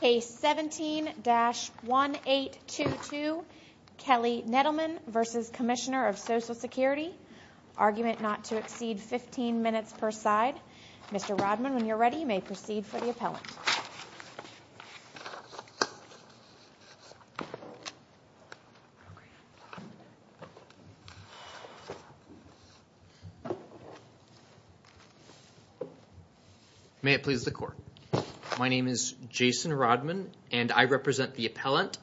Case 17-1822, Kelli Nettleman v. Comm of Social Security Argument not to exceed 15 minutes per side Mr. Rodman, when you're ready, you may proceed for the appellant May it please the court. My name is Jason Rodman and I represent the appellant,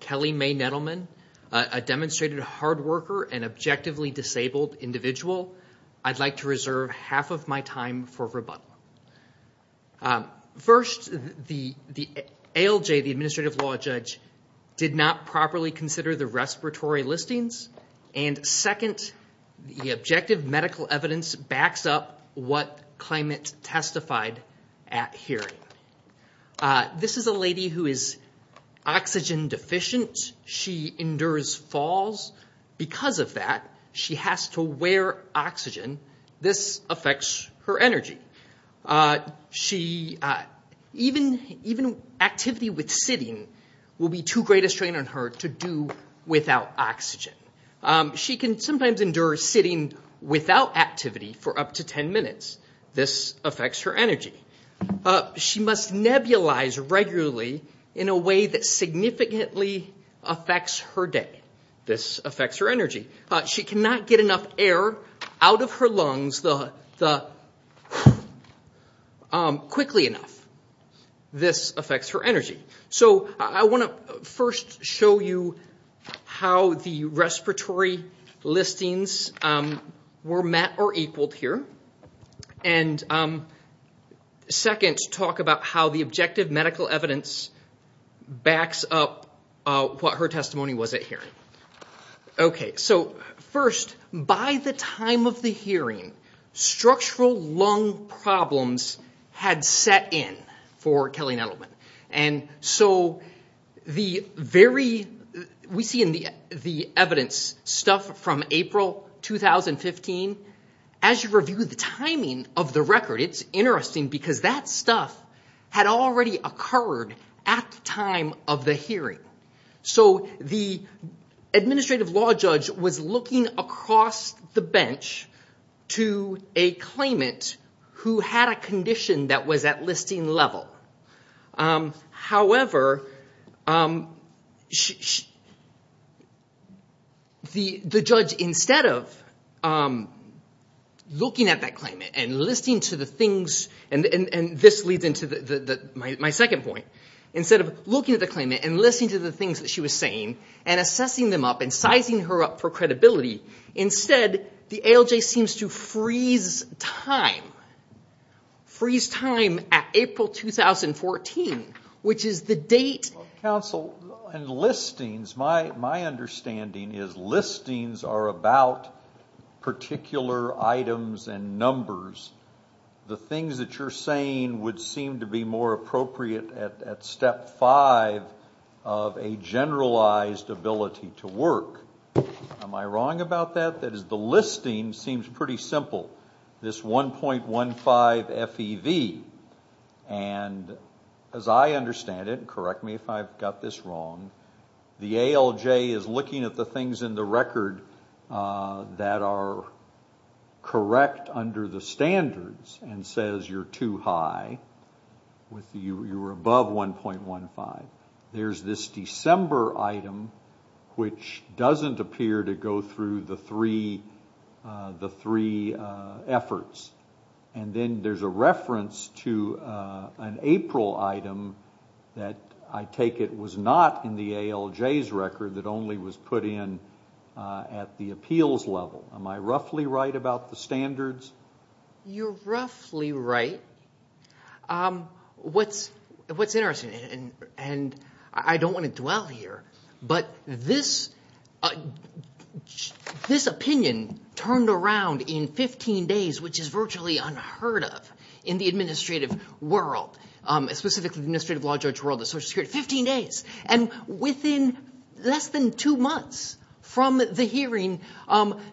Kelli Mae Nettleman, a demonstrated hard worker and objectively disabled individual. I'd like to reserve half of my time for rebuttal. First, the ALJ, the administrative law judge, did not properly consider the respiratory listings, and second, the objective medical evidence backs up what claimant testified at hearing. This is a lady who is oxygen deficient. She endures falls. Because of that, she has to wear oxygen. This affects her energy. Even activity with sitting will be too great a strain on her to do without oxygen. She can sometimes endure sitting without activity for up to 10 minutes. This affects her energy. She must nebulize regularly in a way that out of her lungs quickly enough. This affects her energy. I want to first show you how the respiratory listings were met or equaled here, and second, talk about how the objective medical evidence backs up what her testimony was at hearing. First, by the time of the hearing, structural lung problems had set in for Kelli Nettleman. We see in the evidence stuff from April 2015. As you review the timing of the record, it's administrative law judge was looking across the bench to a claimant who had a condition that was at listing level. However, the judge, instead of looking at that claimant and listening to the things, and this leads into my second point, instead of looking at the claimant and listening to the things she was saying and assessing them up and sizing her up for credibility, instead, the ALJ seems to freeze time. Freeze time at April 2014, which is the date... Counsel, in listings, my understanding is listings are about particular items and numbers. The things that you're saying would seem to be more appropriate at step five of a generalized ability to work. Am I wrong about that? That is, the listing seems pretty simple. This 1.15 FEV, and as I understand it, and correct me if I've got this wrong, the ALJ is looking at the things in the record that are correct under the standards and says you're too high, you're above 1.15. There's this December item, which doesn't appear to go through the three efforts. Then there's a reference to an April item that I take it was not in the ALJ's record, that only was put in at the appeals level. Am I roughly right about the standards? You're roughly right. What's interesting, and I don't want to dwell here, but this opinion turned around in 15 days, which is virtually unheard of in the administrative world. Specifically, the administrative law judge world, the social security world. Fifteen days. Within less than two months from the hearing,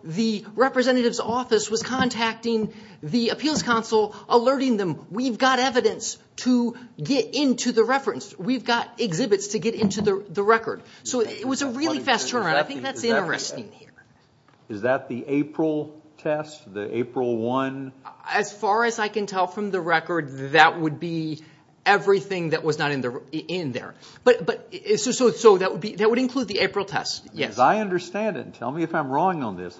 the representative's office was contacting the appeals council, alerting them, we've got evidence to get into the reference. We've got exhibits to get into the record. It was a really fast turnaround. I think that's interesting here. Is that the April test? The April one? As far as I can tell from the record, that would be everything that was not in there. That would include the April test, yes. I understand it. Tell me if I'm wrong on this.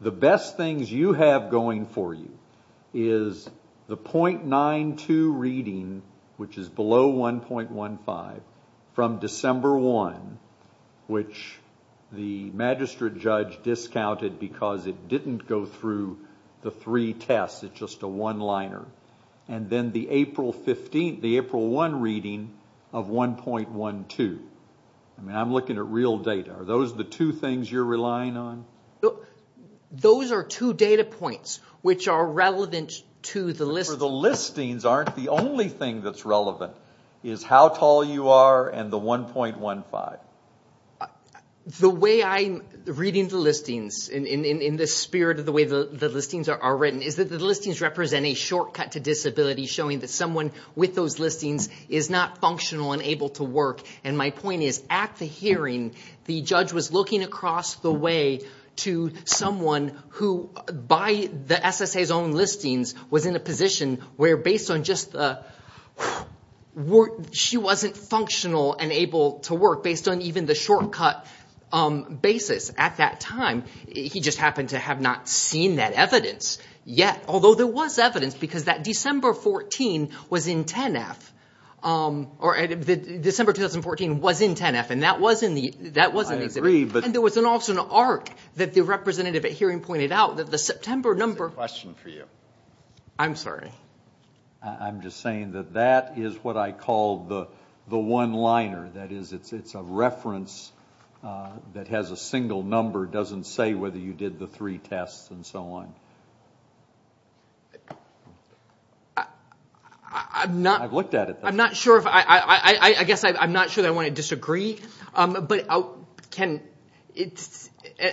The best things you have going for you is the .92 reading, which is below 1.15, from December 1, which the magistrate judge discounted because it didn't go through the three tests. It's just a one-liner. And then the April 1 reading of 1.12. I'm looking at real data. Are those the two things you're relying on? Those are two data points which are relevant to the listing. The listings aren't the only thing that's relevant, is how tall you are and the 1.15. The way I'm reading the listings, in the spirit of the way the listings are written, is that the listings represent a shortcut to disability, showing that someone with those listings is not functional and able to work. My point is, at the hearing, the judge was looking across the way to someone who, by the SSA's own listings, was in a position where she wasn't functional and able to work, based on even the shortcut basis. At that time, he just happened to have not seen that evidence yet. Although there was evidence, because that December 2014 was in 10-F. December 2014 was in 10-F, and that was in the exhibit. I agree, but... And there was also an arc that the representative at hearing pointed out, that the September number... I have a question for you. I'm sorry. I'm just saying that that is what I call the one-liner. That is, it's a reference that has a single number. It doesn't say whether you did the three tests and so on. I'm not... I've looked at it, though. I'm not sure if... I guess I'm not sure that I want to disagree, but can...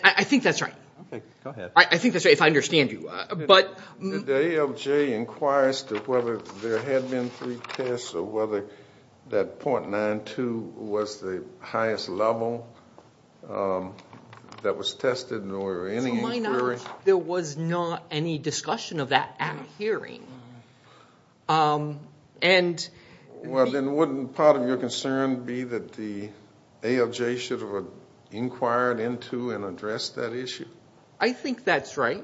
I think that's right. Okay. Go ahead. I think that's right, if I understand you. The ALJ inquires to whether there had been three tests or whether that .92 was the highest level that was tested, nor any inquiry. So why not? There was not any discussion of that at hearing. And... Well, then wouldn't part of your concern be that the ALJ should have inquired into and addressed that issue? I think that's right.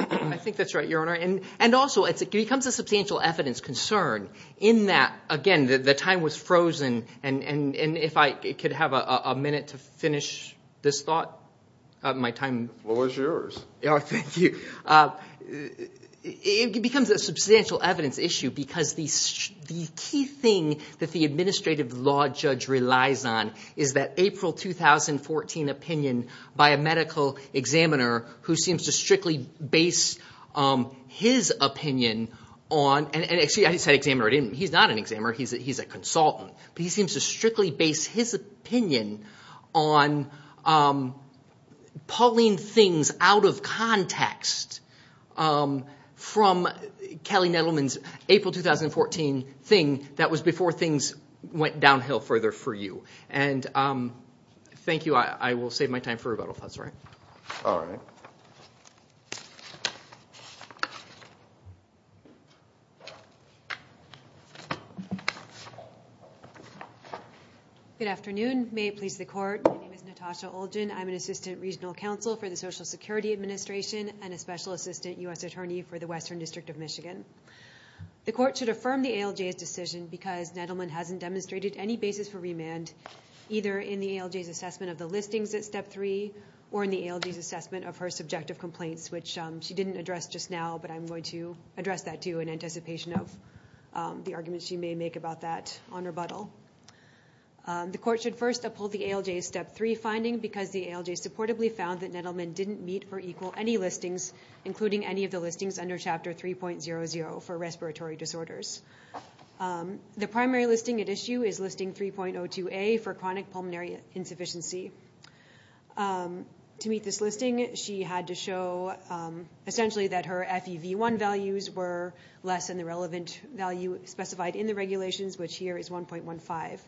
I think that's right, Your Honor. And also, it becomes a substantial evidence concern in that, again, the time was frozen. And if I could have a minute to finish this thought, my time... The floor is yours. Oh, thank you. It becomes a substantial evidence issue because the key thing that the administrative law judge relies on is that April 2014 opinion by a medical examiner who seems to strictly base his opinion on... Actually, I said examiner. He's not an examiner. He's a consultant. But he seems to strictly base his opinion on pulling things out of context from Kelly Nettleman's April 2014 thing that was before things went downhill further for you. And thank you. I will save my time for rebuttal if that's all right. All right. Good afternoon. May it please the Court. My name is Natasha Olgin. I'm an assistant regional counsel for the Social Security Administration and a special assistant U.S. attorney for the Western District of Michigan. The Court should affirm the ALJ's decision because Nettleman hasn't demonstrated any basis for remand either in the ALJ's assessment of the listings at Step 3 or in the ALJ's assessment of her subjective complaints, which she didn't address just now, but I'm going to address that, too, in anticipation of the arguments she may make about that on rebuttal. The Court should first uphold the ALJ's Step 3 finding because the ALJ supportably found that Nettleman didn't meet or equal any listings, including any of the listings under Chapter 3.00 for respiratory disorders. The primary listing at issue is listing 3.02A for chronic pulmonary insufficiency. To meet this listing, she had to show essentially that her FEV1 values were less than the relevant value specified in the regulations, which here is 1.15.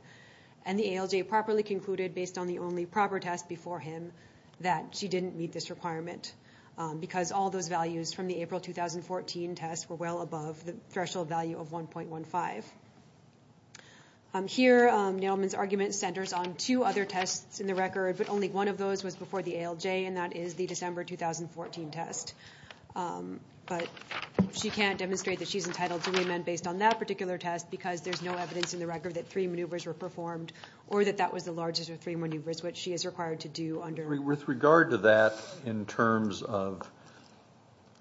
And the ALJ properly concluded, based on the only proper test before him, that she didn't meet this requirement because all those values from the April 2014 test were well above the threshold value of 1.15. Here Nettleman's argument centers on two other tests in the record, but only one of those was before the ALJ, and that is the December 2014 test. But she can't demonstrate that she's entitled to remand based on that particular test because there's no evidence in the record that three maneuvers were performed or that that was the largest of three maneuvers, which she is required to do under… With regard to that in terms of,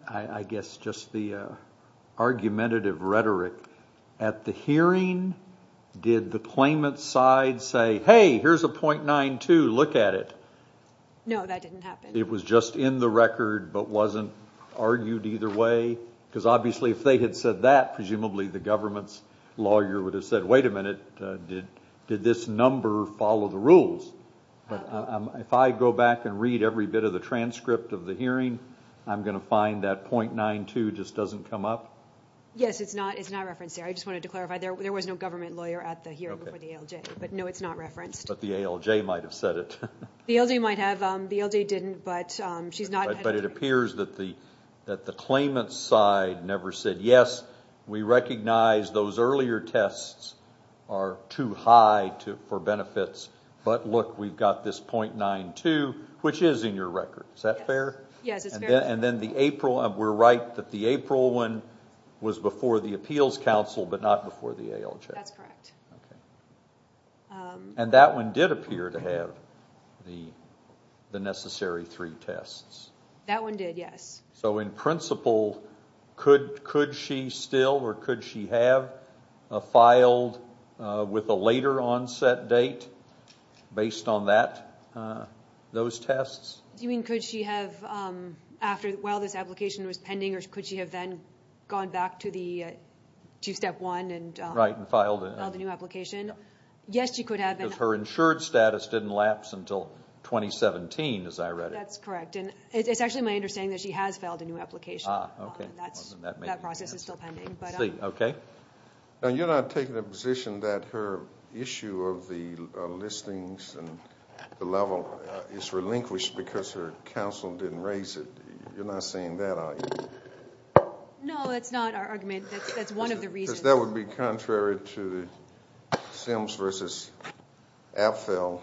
I guess, just the argumentative rhetoric, at the hearing did the claimant's side say, hey, here's a .92, look at it? No, that didn't happen. It was just in the record but wasn't argued either way? Because obviously if they had said that, presumably the government's lawyer would have said, wait a minute, did this number follow the rules? If I go back and read every bit of the transcript of the hearing, I'm going to find that .92 just doesn't come up? Yes, it's not referenced there. I just wanted to clarify there was no government lawyer at the hearing before the ALJ, but, no, it's not referenced. But the ALJ might have said it. The ALJ might have. The ALJ didn't, but she's not… But it appears that the claimant's side never said, yes, we recognize those earlier tests are too high for benefits, but, look, we've got this .92, which is in your record. Is that fair? Yes, it's fair. And then the April, we're right that the April one was before the appeals council but not before the ALJ. That's correct. And that one did appear to have the necessary three tests. That one did, yes. So, in principle, could she still or could she have filed with a later onset date based on those tests? Do you mean could she have while this application was pending or could she have then gone back to step one and filed a new application? Yes, she could have. Because her insured status didn't lapse until 2017, as I read it. That's correct. It's actually my understanding that she has filed a new application. Ah, okay. That process is still pending. Okay. Now, you're not taking the position that her issue of the listings and the level is relinquished because her counsel didn't raise it. You're not saying that, are you? No, that's not our argument. That's one of the reasons. Because that would be contrary to the Sims v. Apfel,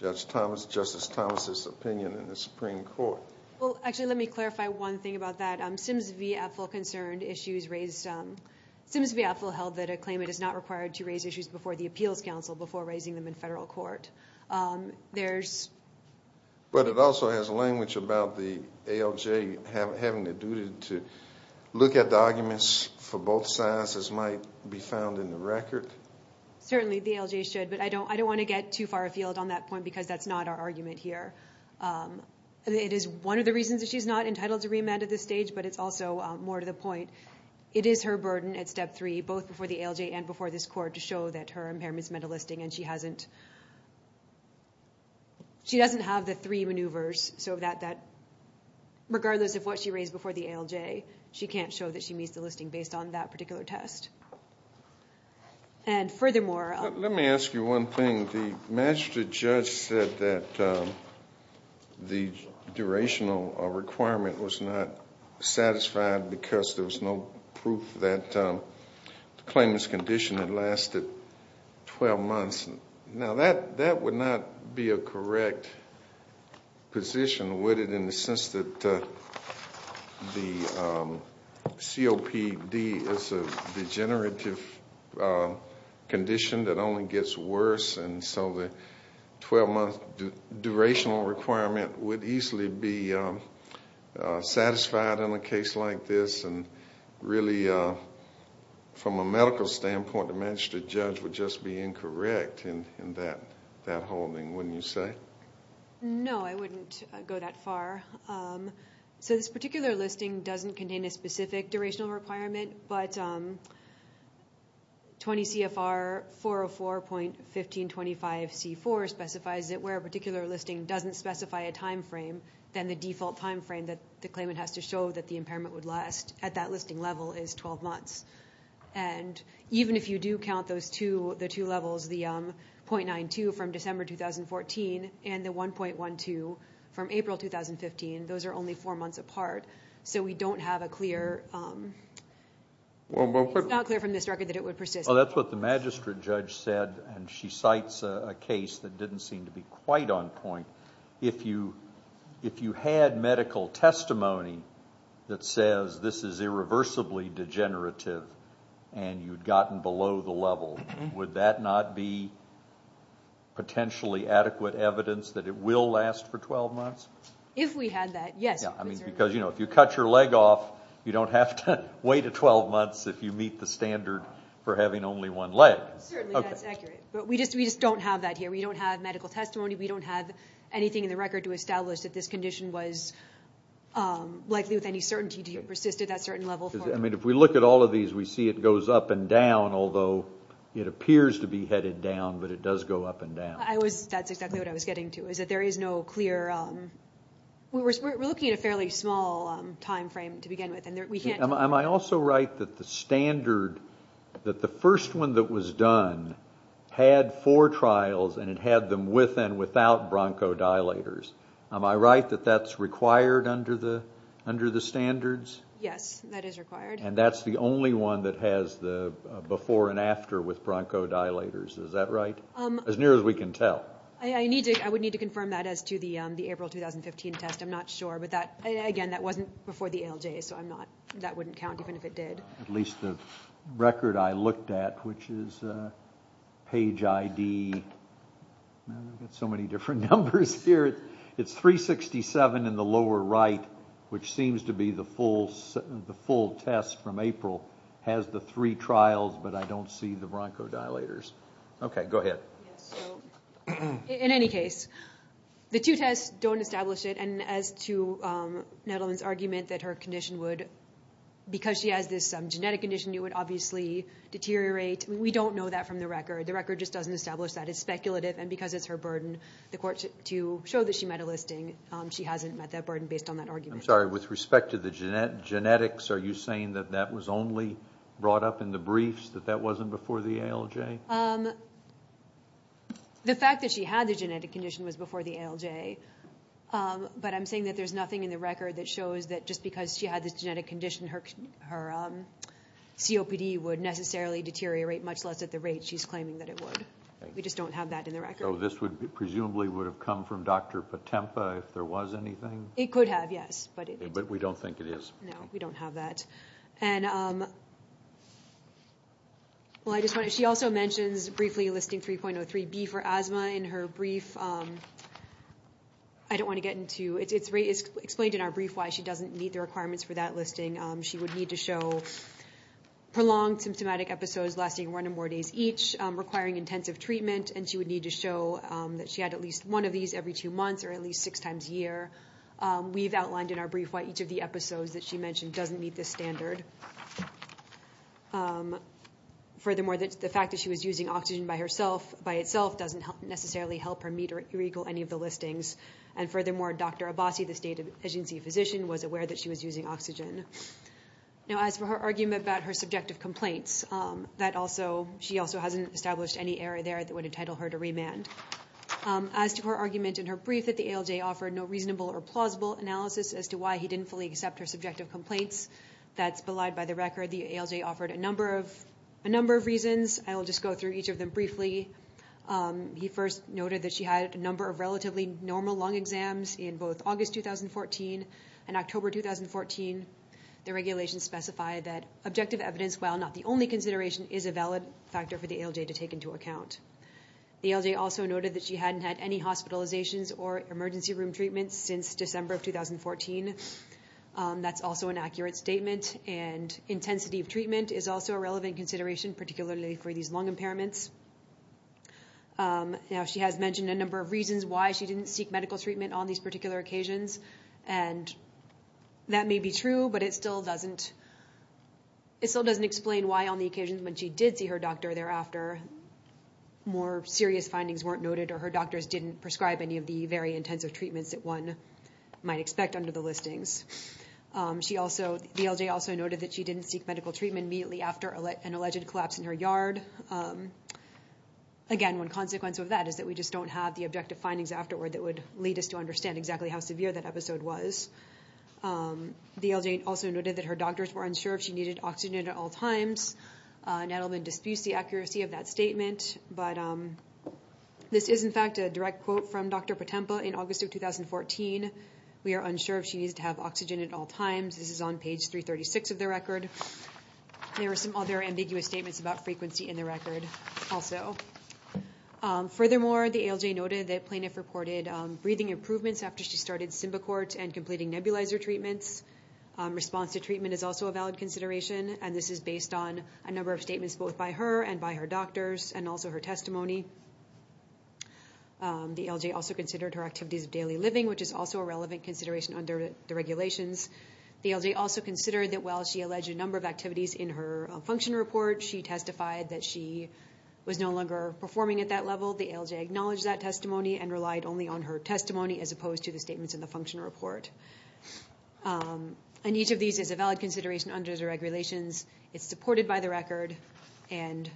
Judge Thomas, Justice Thomas' opinion in the Supreme Court. Well, actually, let me clarify one thing about that. Sims v. Apfel concerned issues raised. Sims v. Apfel held that a claimant is not required to raise issues before the appeals counsel before raising them in federal court. But it also has language about the ALJ having the duty to look at the arguments for both sides as might be found in the record. Certainly, the ALJ should. But I don't want to get too far afield on that point because that's not our argument here. It is one of the reasons that she's not entitled to remand at this stage, but it's also more to the point. It is her burden at Step 3, both before the ALJ and before this court, to show that her impairments meant a listing, and she doesn't have the three maneuvers so that regardless of what she raised before the ALJ, she can't show that she meets the listing based on that particular test. And furthermore... Let me ask you one thing. The magistrate judge said that the durational requirement was not satisfied because there was no proof that the claimant's condition had lasted 12 months. Now, that would not be a correct position, would it, in the sense that the COPD is a degenerative condition that only gets worse and so the 12-month durational requirement would easily be satisfied in a case like this and really, from a medical standpoint, the magistrate judge would just be incorrect in that holding, wouldn't you say? No, I wouldn't go that far. So this particular listing doesn't contain a specific durational requirement, but 20 CFR 404.1525C4 specifies that where a particular listing doesn't specify a time frame, then the default time frame that the claimant has to show that the impairment would last at that listing level is 12 months. And even if you do count the two levels, the .92 from December 2014 and the 1.12 from April 2015, those are only four months apart. So we don't have a clear... It's not clear from this record that it would persist. Well, that's what the magistrate judge said, and she cites a case that didn't seem to be quite on point. If you had medical testimony that says this is irreversibly degenerative and you'd gotten below the level, would that not be potentially adequate evidence that it will last for 12 months? If we had that, yes. Because if you cut your leg off, you don't have to wait 12 months if you meet the standard for having only one leg. Certainly that's accurate, but we just don't have that here. We don't have medical testimony. We don't have anything in the record to establish that this condition was likely with any certainty to persist at that certain level. I mean, if we look at all of these, we see it goes up and down, although it appears to be headed down, but it does go up and down. That's exactly what I was getting to, is that there is no clear... We're looking at a fairly small time frame to begin with. Am I also right that the standard, that the first one that was done had four trials and it had them with and without bronchodilators? Am I right that that's required under the standards? Yes, that is required. And that's the only one that has the before and after with bronchodilators, is that right? As near as we can tell. I would need to confirm that as to the April 2015 test. I'm not sure, but again, that wasn't before the ALJ, so that wouldn't count even if it did. At least the record I looked at, which is page ID... I've got so many different numbers here. It's 367 in the lower right, which seems to be the full test from April. It has the three trials, but I don't see the bronchodilators. Okay, go ahead. In any case, the two tests don't establish it, and as to Nedelman's argument that her condition would, because she has this genetic condition, it would obviously deteriorate, we don't know that from the record. The record just doesn't establish that. It's speculative, and because it's her burden, the court should show that she met a listing. She hasn't met that burden based on that argument. I'm sorry, with respect to the genetics, are you saying that that was only brought up in the briefs, that that wasn't before the ALJ? The fact that she had the genetic condition was before the ALJ, but I'm saying that there's nothing in the record that shows that just because she had this genetic condition, her COPD would necessarily deteriorate, much less at the rate she's claiming that it would. We just don't have that in the record. So this presumably would have come from Dr. Patempa if there was anything? It could have, yes. But we don't think it is. No, we don't have that. She also mentions briefly listing 3.03B for asthma in her brief. I don't want to get into it. It's explained in our brief why she doesn't meet the requirements for that listing. She would need to show prolonged symptomatic episodes lasting one or more days each, requiring intensive treatment, and she would need to show that she had at least one of these every two months or at least six times a year. We've outlined in our brief why each of the episodes that she mentioned doesn't meet this standard. Furthermore, the fact that she was using oxygen by itself doesn't necessarily help her meet or equal any of the listings. And furthermore, Dr. Abbasi, the state agency physician, was aware that she was using oxygen. Now, as for her argument about her subjective complaints, she also hasn't established any error there that would entitle her to remand. As to her argument in her brief that the ALJ offered no reasonable or plausible analysis as to why he didn't fully accept her subjective complaints, that's belied by the record. The ALJ offered a number of reasons. I will just go through each of them briefly. He first noted that she had a number of relatively normal lung exams in both August 2014 and October 2014. The regulations specify that objective evidence, while not the only consideration, is a valid factor for the ALJ to take into account. The ALJ also noted that she hadn't had any hospitalizations or emergency room treatments since December of 2014. That's also an accurate statement, and intensity of treatment is also a relevant consideration, particularly for these lung impairments. Now, she has mentioned a number of reasons why she didn't seek medical treatment on these particular occasions, and that may be true, but it still doesn't explain why, on the occasion when she did see her doctor thereafter, more serious findings weren't noted or her doctors didn't prescribe any of the very intensive treatments that one might expect under the listings. The ALJ also noted that she didn't seek medical treatment immediately after an alleged collapse in her yard. Again, one consequence of that is that we just don't have the objective findings afterward that would lead us to understand exactly how severe that episode was. The ALJ also noted that her doctors were unsure if she needed oxygen at all times. Nettleman disputes the accuracy of that statement, but this is, in fact, a direct quote from Dr. Potempa in August of 2014. We are unsure if she needs to have oxygen at all times. This is on page 336 of the record. There are some other ambiguous statements about frequency in the record also. Furthermore, the ALJ noted that Plainiff reported breathing improvements after she started Simbicort and completing nebulizer treatments. Response to treatment is also a valid consideration, and this is based on a number of statements both by her and by her doctors and also her testimony. The ALJ also considered her activities of daily living, which is also a relevant consideration under the regulations. The ALJ also considered that while she alleged a number of activities in her function report, she testified that she was no longer performing at that level. The ALJ acknowledged that testimony and relied only on her testimony as opposed to the statements in the function report. And each of these is a valid consideration under the regulations. It's supported by the record, and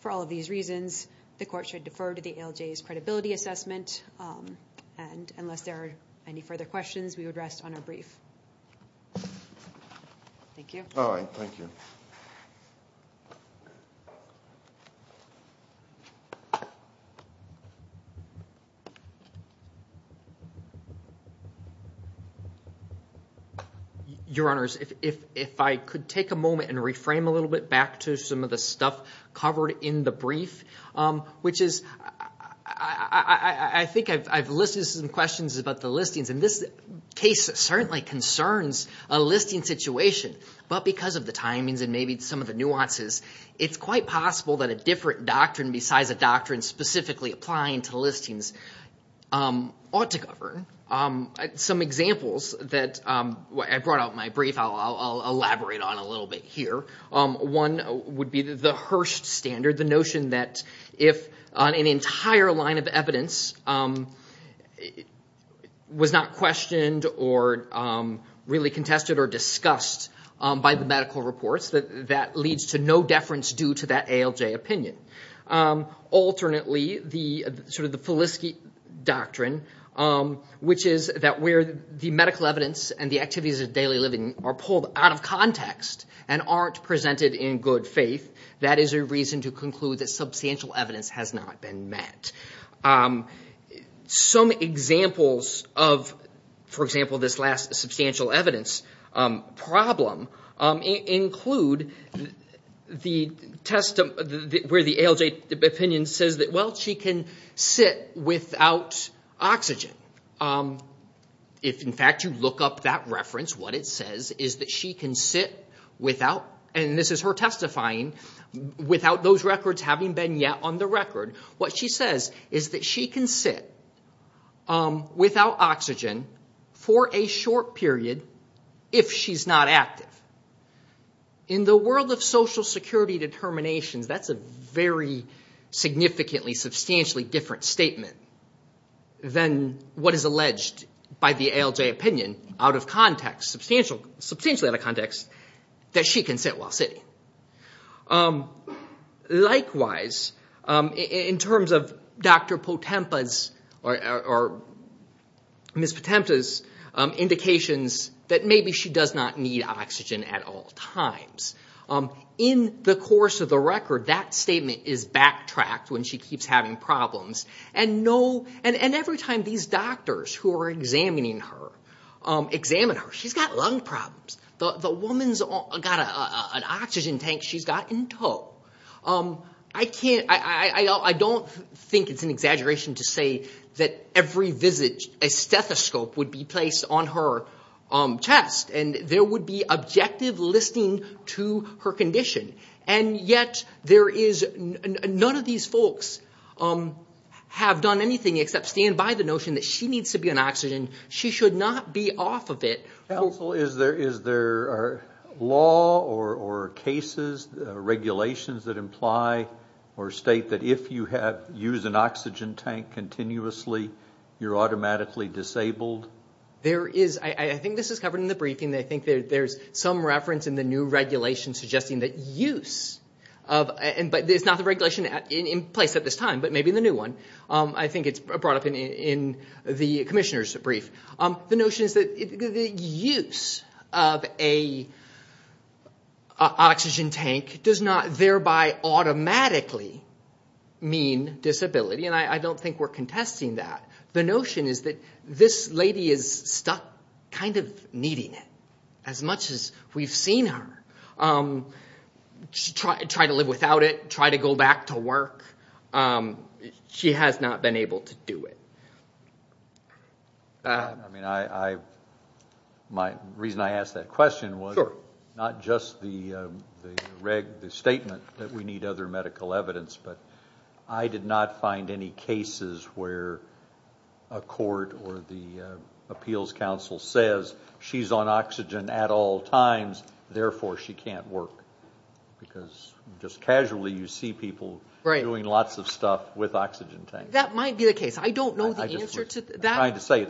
for all of these reasons, the court should defer to the ALJ's credibility assessment and unless there are any further questions, we would rest on our brief. Thank you. All right, thank you. Your Honors, if I could take a moment and reframe a little bit back to some of the stuff covered in the brief, which is I think I've listed some questions about the listings, and this case certainly concerns a listing situation, but because of the timings and maybe some of the nuances, it's quite possible that a different doctrine besides a doctrine specifically applying to listings ought to govern. Some examples that I brought out in my brief, I'll elaborate on a little bit here. One would be the Hirsch standard, the notion that if an entire line of evidence was not questioned or really contested or discussed by the medical reports, that that leads to no deference due to that ALJ opinion. Alternately, sort of the Feliski doctrine, which is that where the medical evidence and the activities of daily living are pulled out of context and aren't presented in good faith, that is a reason to conclude that substantial evidence has not been met. Some examples of, for example, this last substantial evidence problem include the test where the ALJ opinion says that, well, she can sit without oxygen. If, in fact, you look up that reference, what it says is that she can sit without, and this is her testifying, without those records having been yet on the record, what she says is that she can sit without oxygen for a short period if she's not active. In the world of Social Security determinations, that's a very significantly, substantially different statement than what is alleged by the ALJ opinion, out of context, substantially out of context, that she can sit while sitting. Likewise, in terms of Dr. Potempa's or Ms. Potempa's indications that maybe she does not need oxygen at all times, in the course of the record, that statement is backtracked when she keeps having problems, and every time these doctors who are examining her examine her, she's got lung problems. The woman's got an oxygen tank she's got in tow. I don't think it's an exaggeration to say that every visit, a stethoscope would be placed on her chest, and there would be objective listening to her condition, and yet none of these folks have done anything except stand by the notion that she needs to be on oxygen. She should not be off of it. Counsel, is there law or cases, regulations, that imply or state that if you use an oxygen tank continuously, you're automatically disabled? I think this is covered in the briefing. I think there's some reference in the new regulation suggesting that use of, but it's not the regulation in place at this time, but maybe in the new one. I think it's brought up in the commissioner's brief. The notion is that the use of an oxygen tank does not thereby automatically mean disability, and I don't think we're contesting that. The notion is that this lady is stuck kind of needing it, as much as we've seen her. She tried to live without it, tried to go back to work. She has not been able to do it. I mean, my reason I asked that question was not just the statement that we need other medical evidence, but I did not find any cases where a court or the appeals council says she's on oxygen at all times, therefore she can't work, because just casually you see people doing lots of stuff with oxygen tanks. That might be the case. I don't know the answer to that. I'm trying to say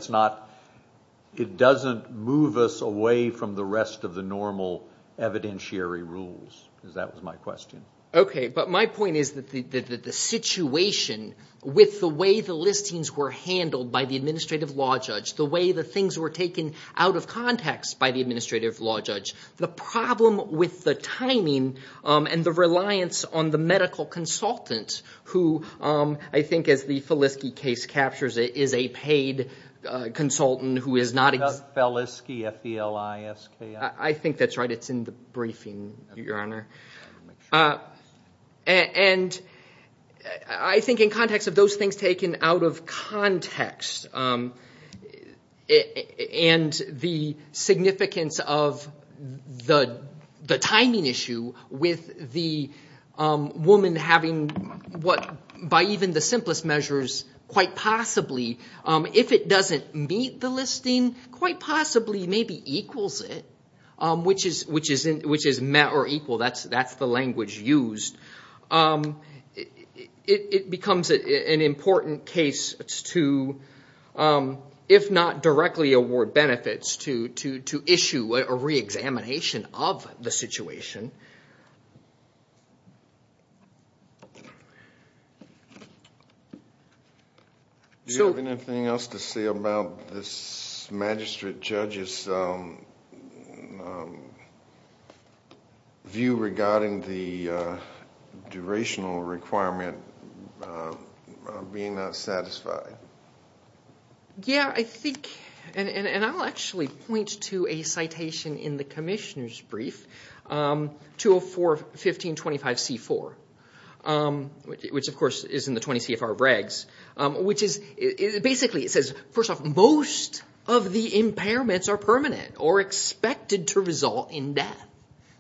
it doesn't move us away from the rest of the normal evidentiary rules, because that was my question. Okay, but my point is that the situation with the way the listings were handled by the administrative law judge, the way the things were taken out of context by the administrative law judge, the problem with the timing and the reliance on the medical consultant, who I think as the Feliski case captures it, is a paid consultant who is not... Doug Feliski, F-E-L-I-S-K-I. I think that's right. It's in the briefing, Your Honor. And I think in context of those things taken out of context and the significance of the timing issue with the woman having, by even the simplest measures, quite possibly, if it doesn't meet the listing, quite possibly maybe equals it, which is met or equal. That's the language used. It becomes an important case to, if not directly award benefits, to issue a re-examination of the situation. Do you have anything else to say about this magistrate judge's view regarding the durational requirement being not satisfied? Yeah, I think... And I'll actually point to a citation in the commissioner's brief, 204-1525-C-4, which of course is in the 20 CFR bregs, which basically says, first off, most of the impairments are permanent or expected to result in death.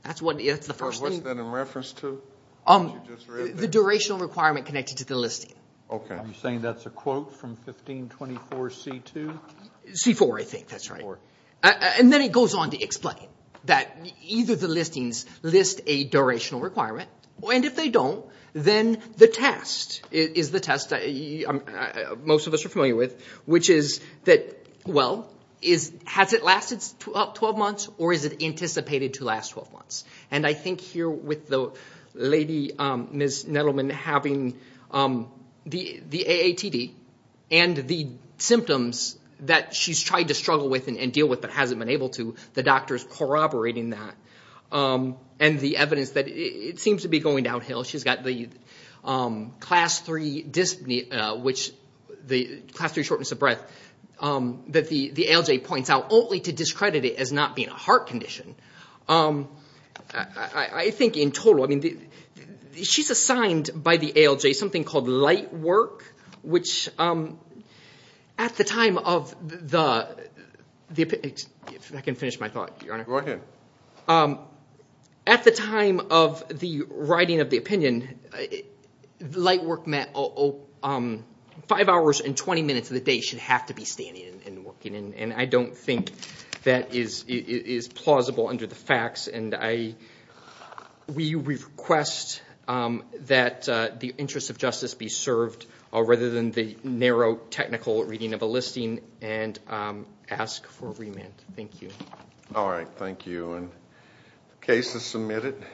What's that in reference to? The durational requirement connected to the listing. You're saying that's a quote from 1524-C-2? C-4, I think. That's right. And then it goes on to explain that either the listings list a durational requirement, and if they don't, then the test is the test most of us are familiar with, which is that, well, has it lasted 12 months, or is it anticipated to last 12 months? And I think here with the lady, Ms. Nettleman, having the AATD and the symptoms that she's tried to struggle with and deal with but hasn't been able to, the doctor's corroborating that, and the evidence that it seems to be going downhill. She's got the class 3 shortness of breath, that the ALJ points out, only to discredit it as not being a heart condition. I think in total, I mean, she's assigned by the ALJ something called light work, which at the time of the... If I can finish my thought, Your Honor. Go ahead. At the time of the writing of the opinion, light work meant 5 hours and 20 minutes a day. It should have to be standing and working, and I don't think that is plausible under the facts, and we request that the interest of justice be served rather than the narrow technical reading of a listing and ask for remand. Thank you. All right, thank you. The case is submitted.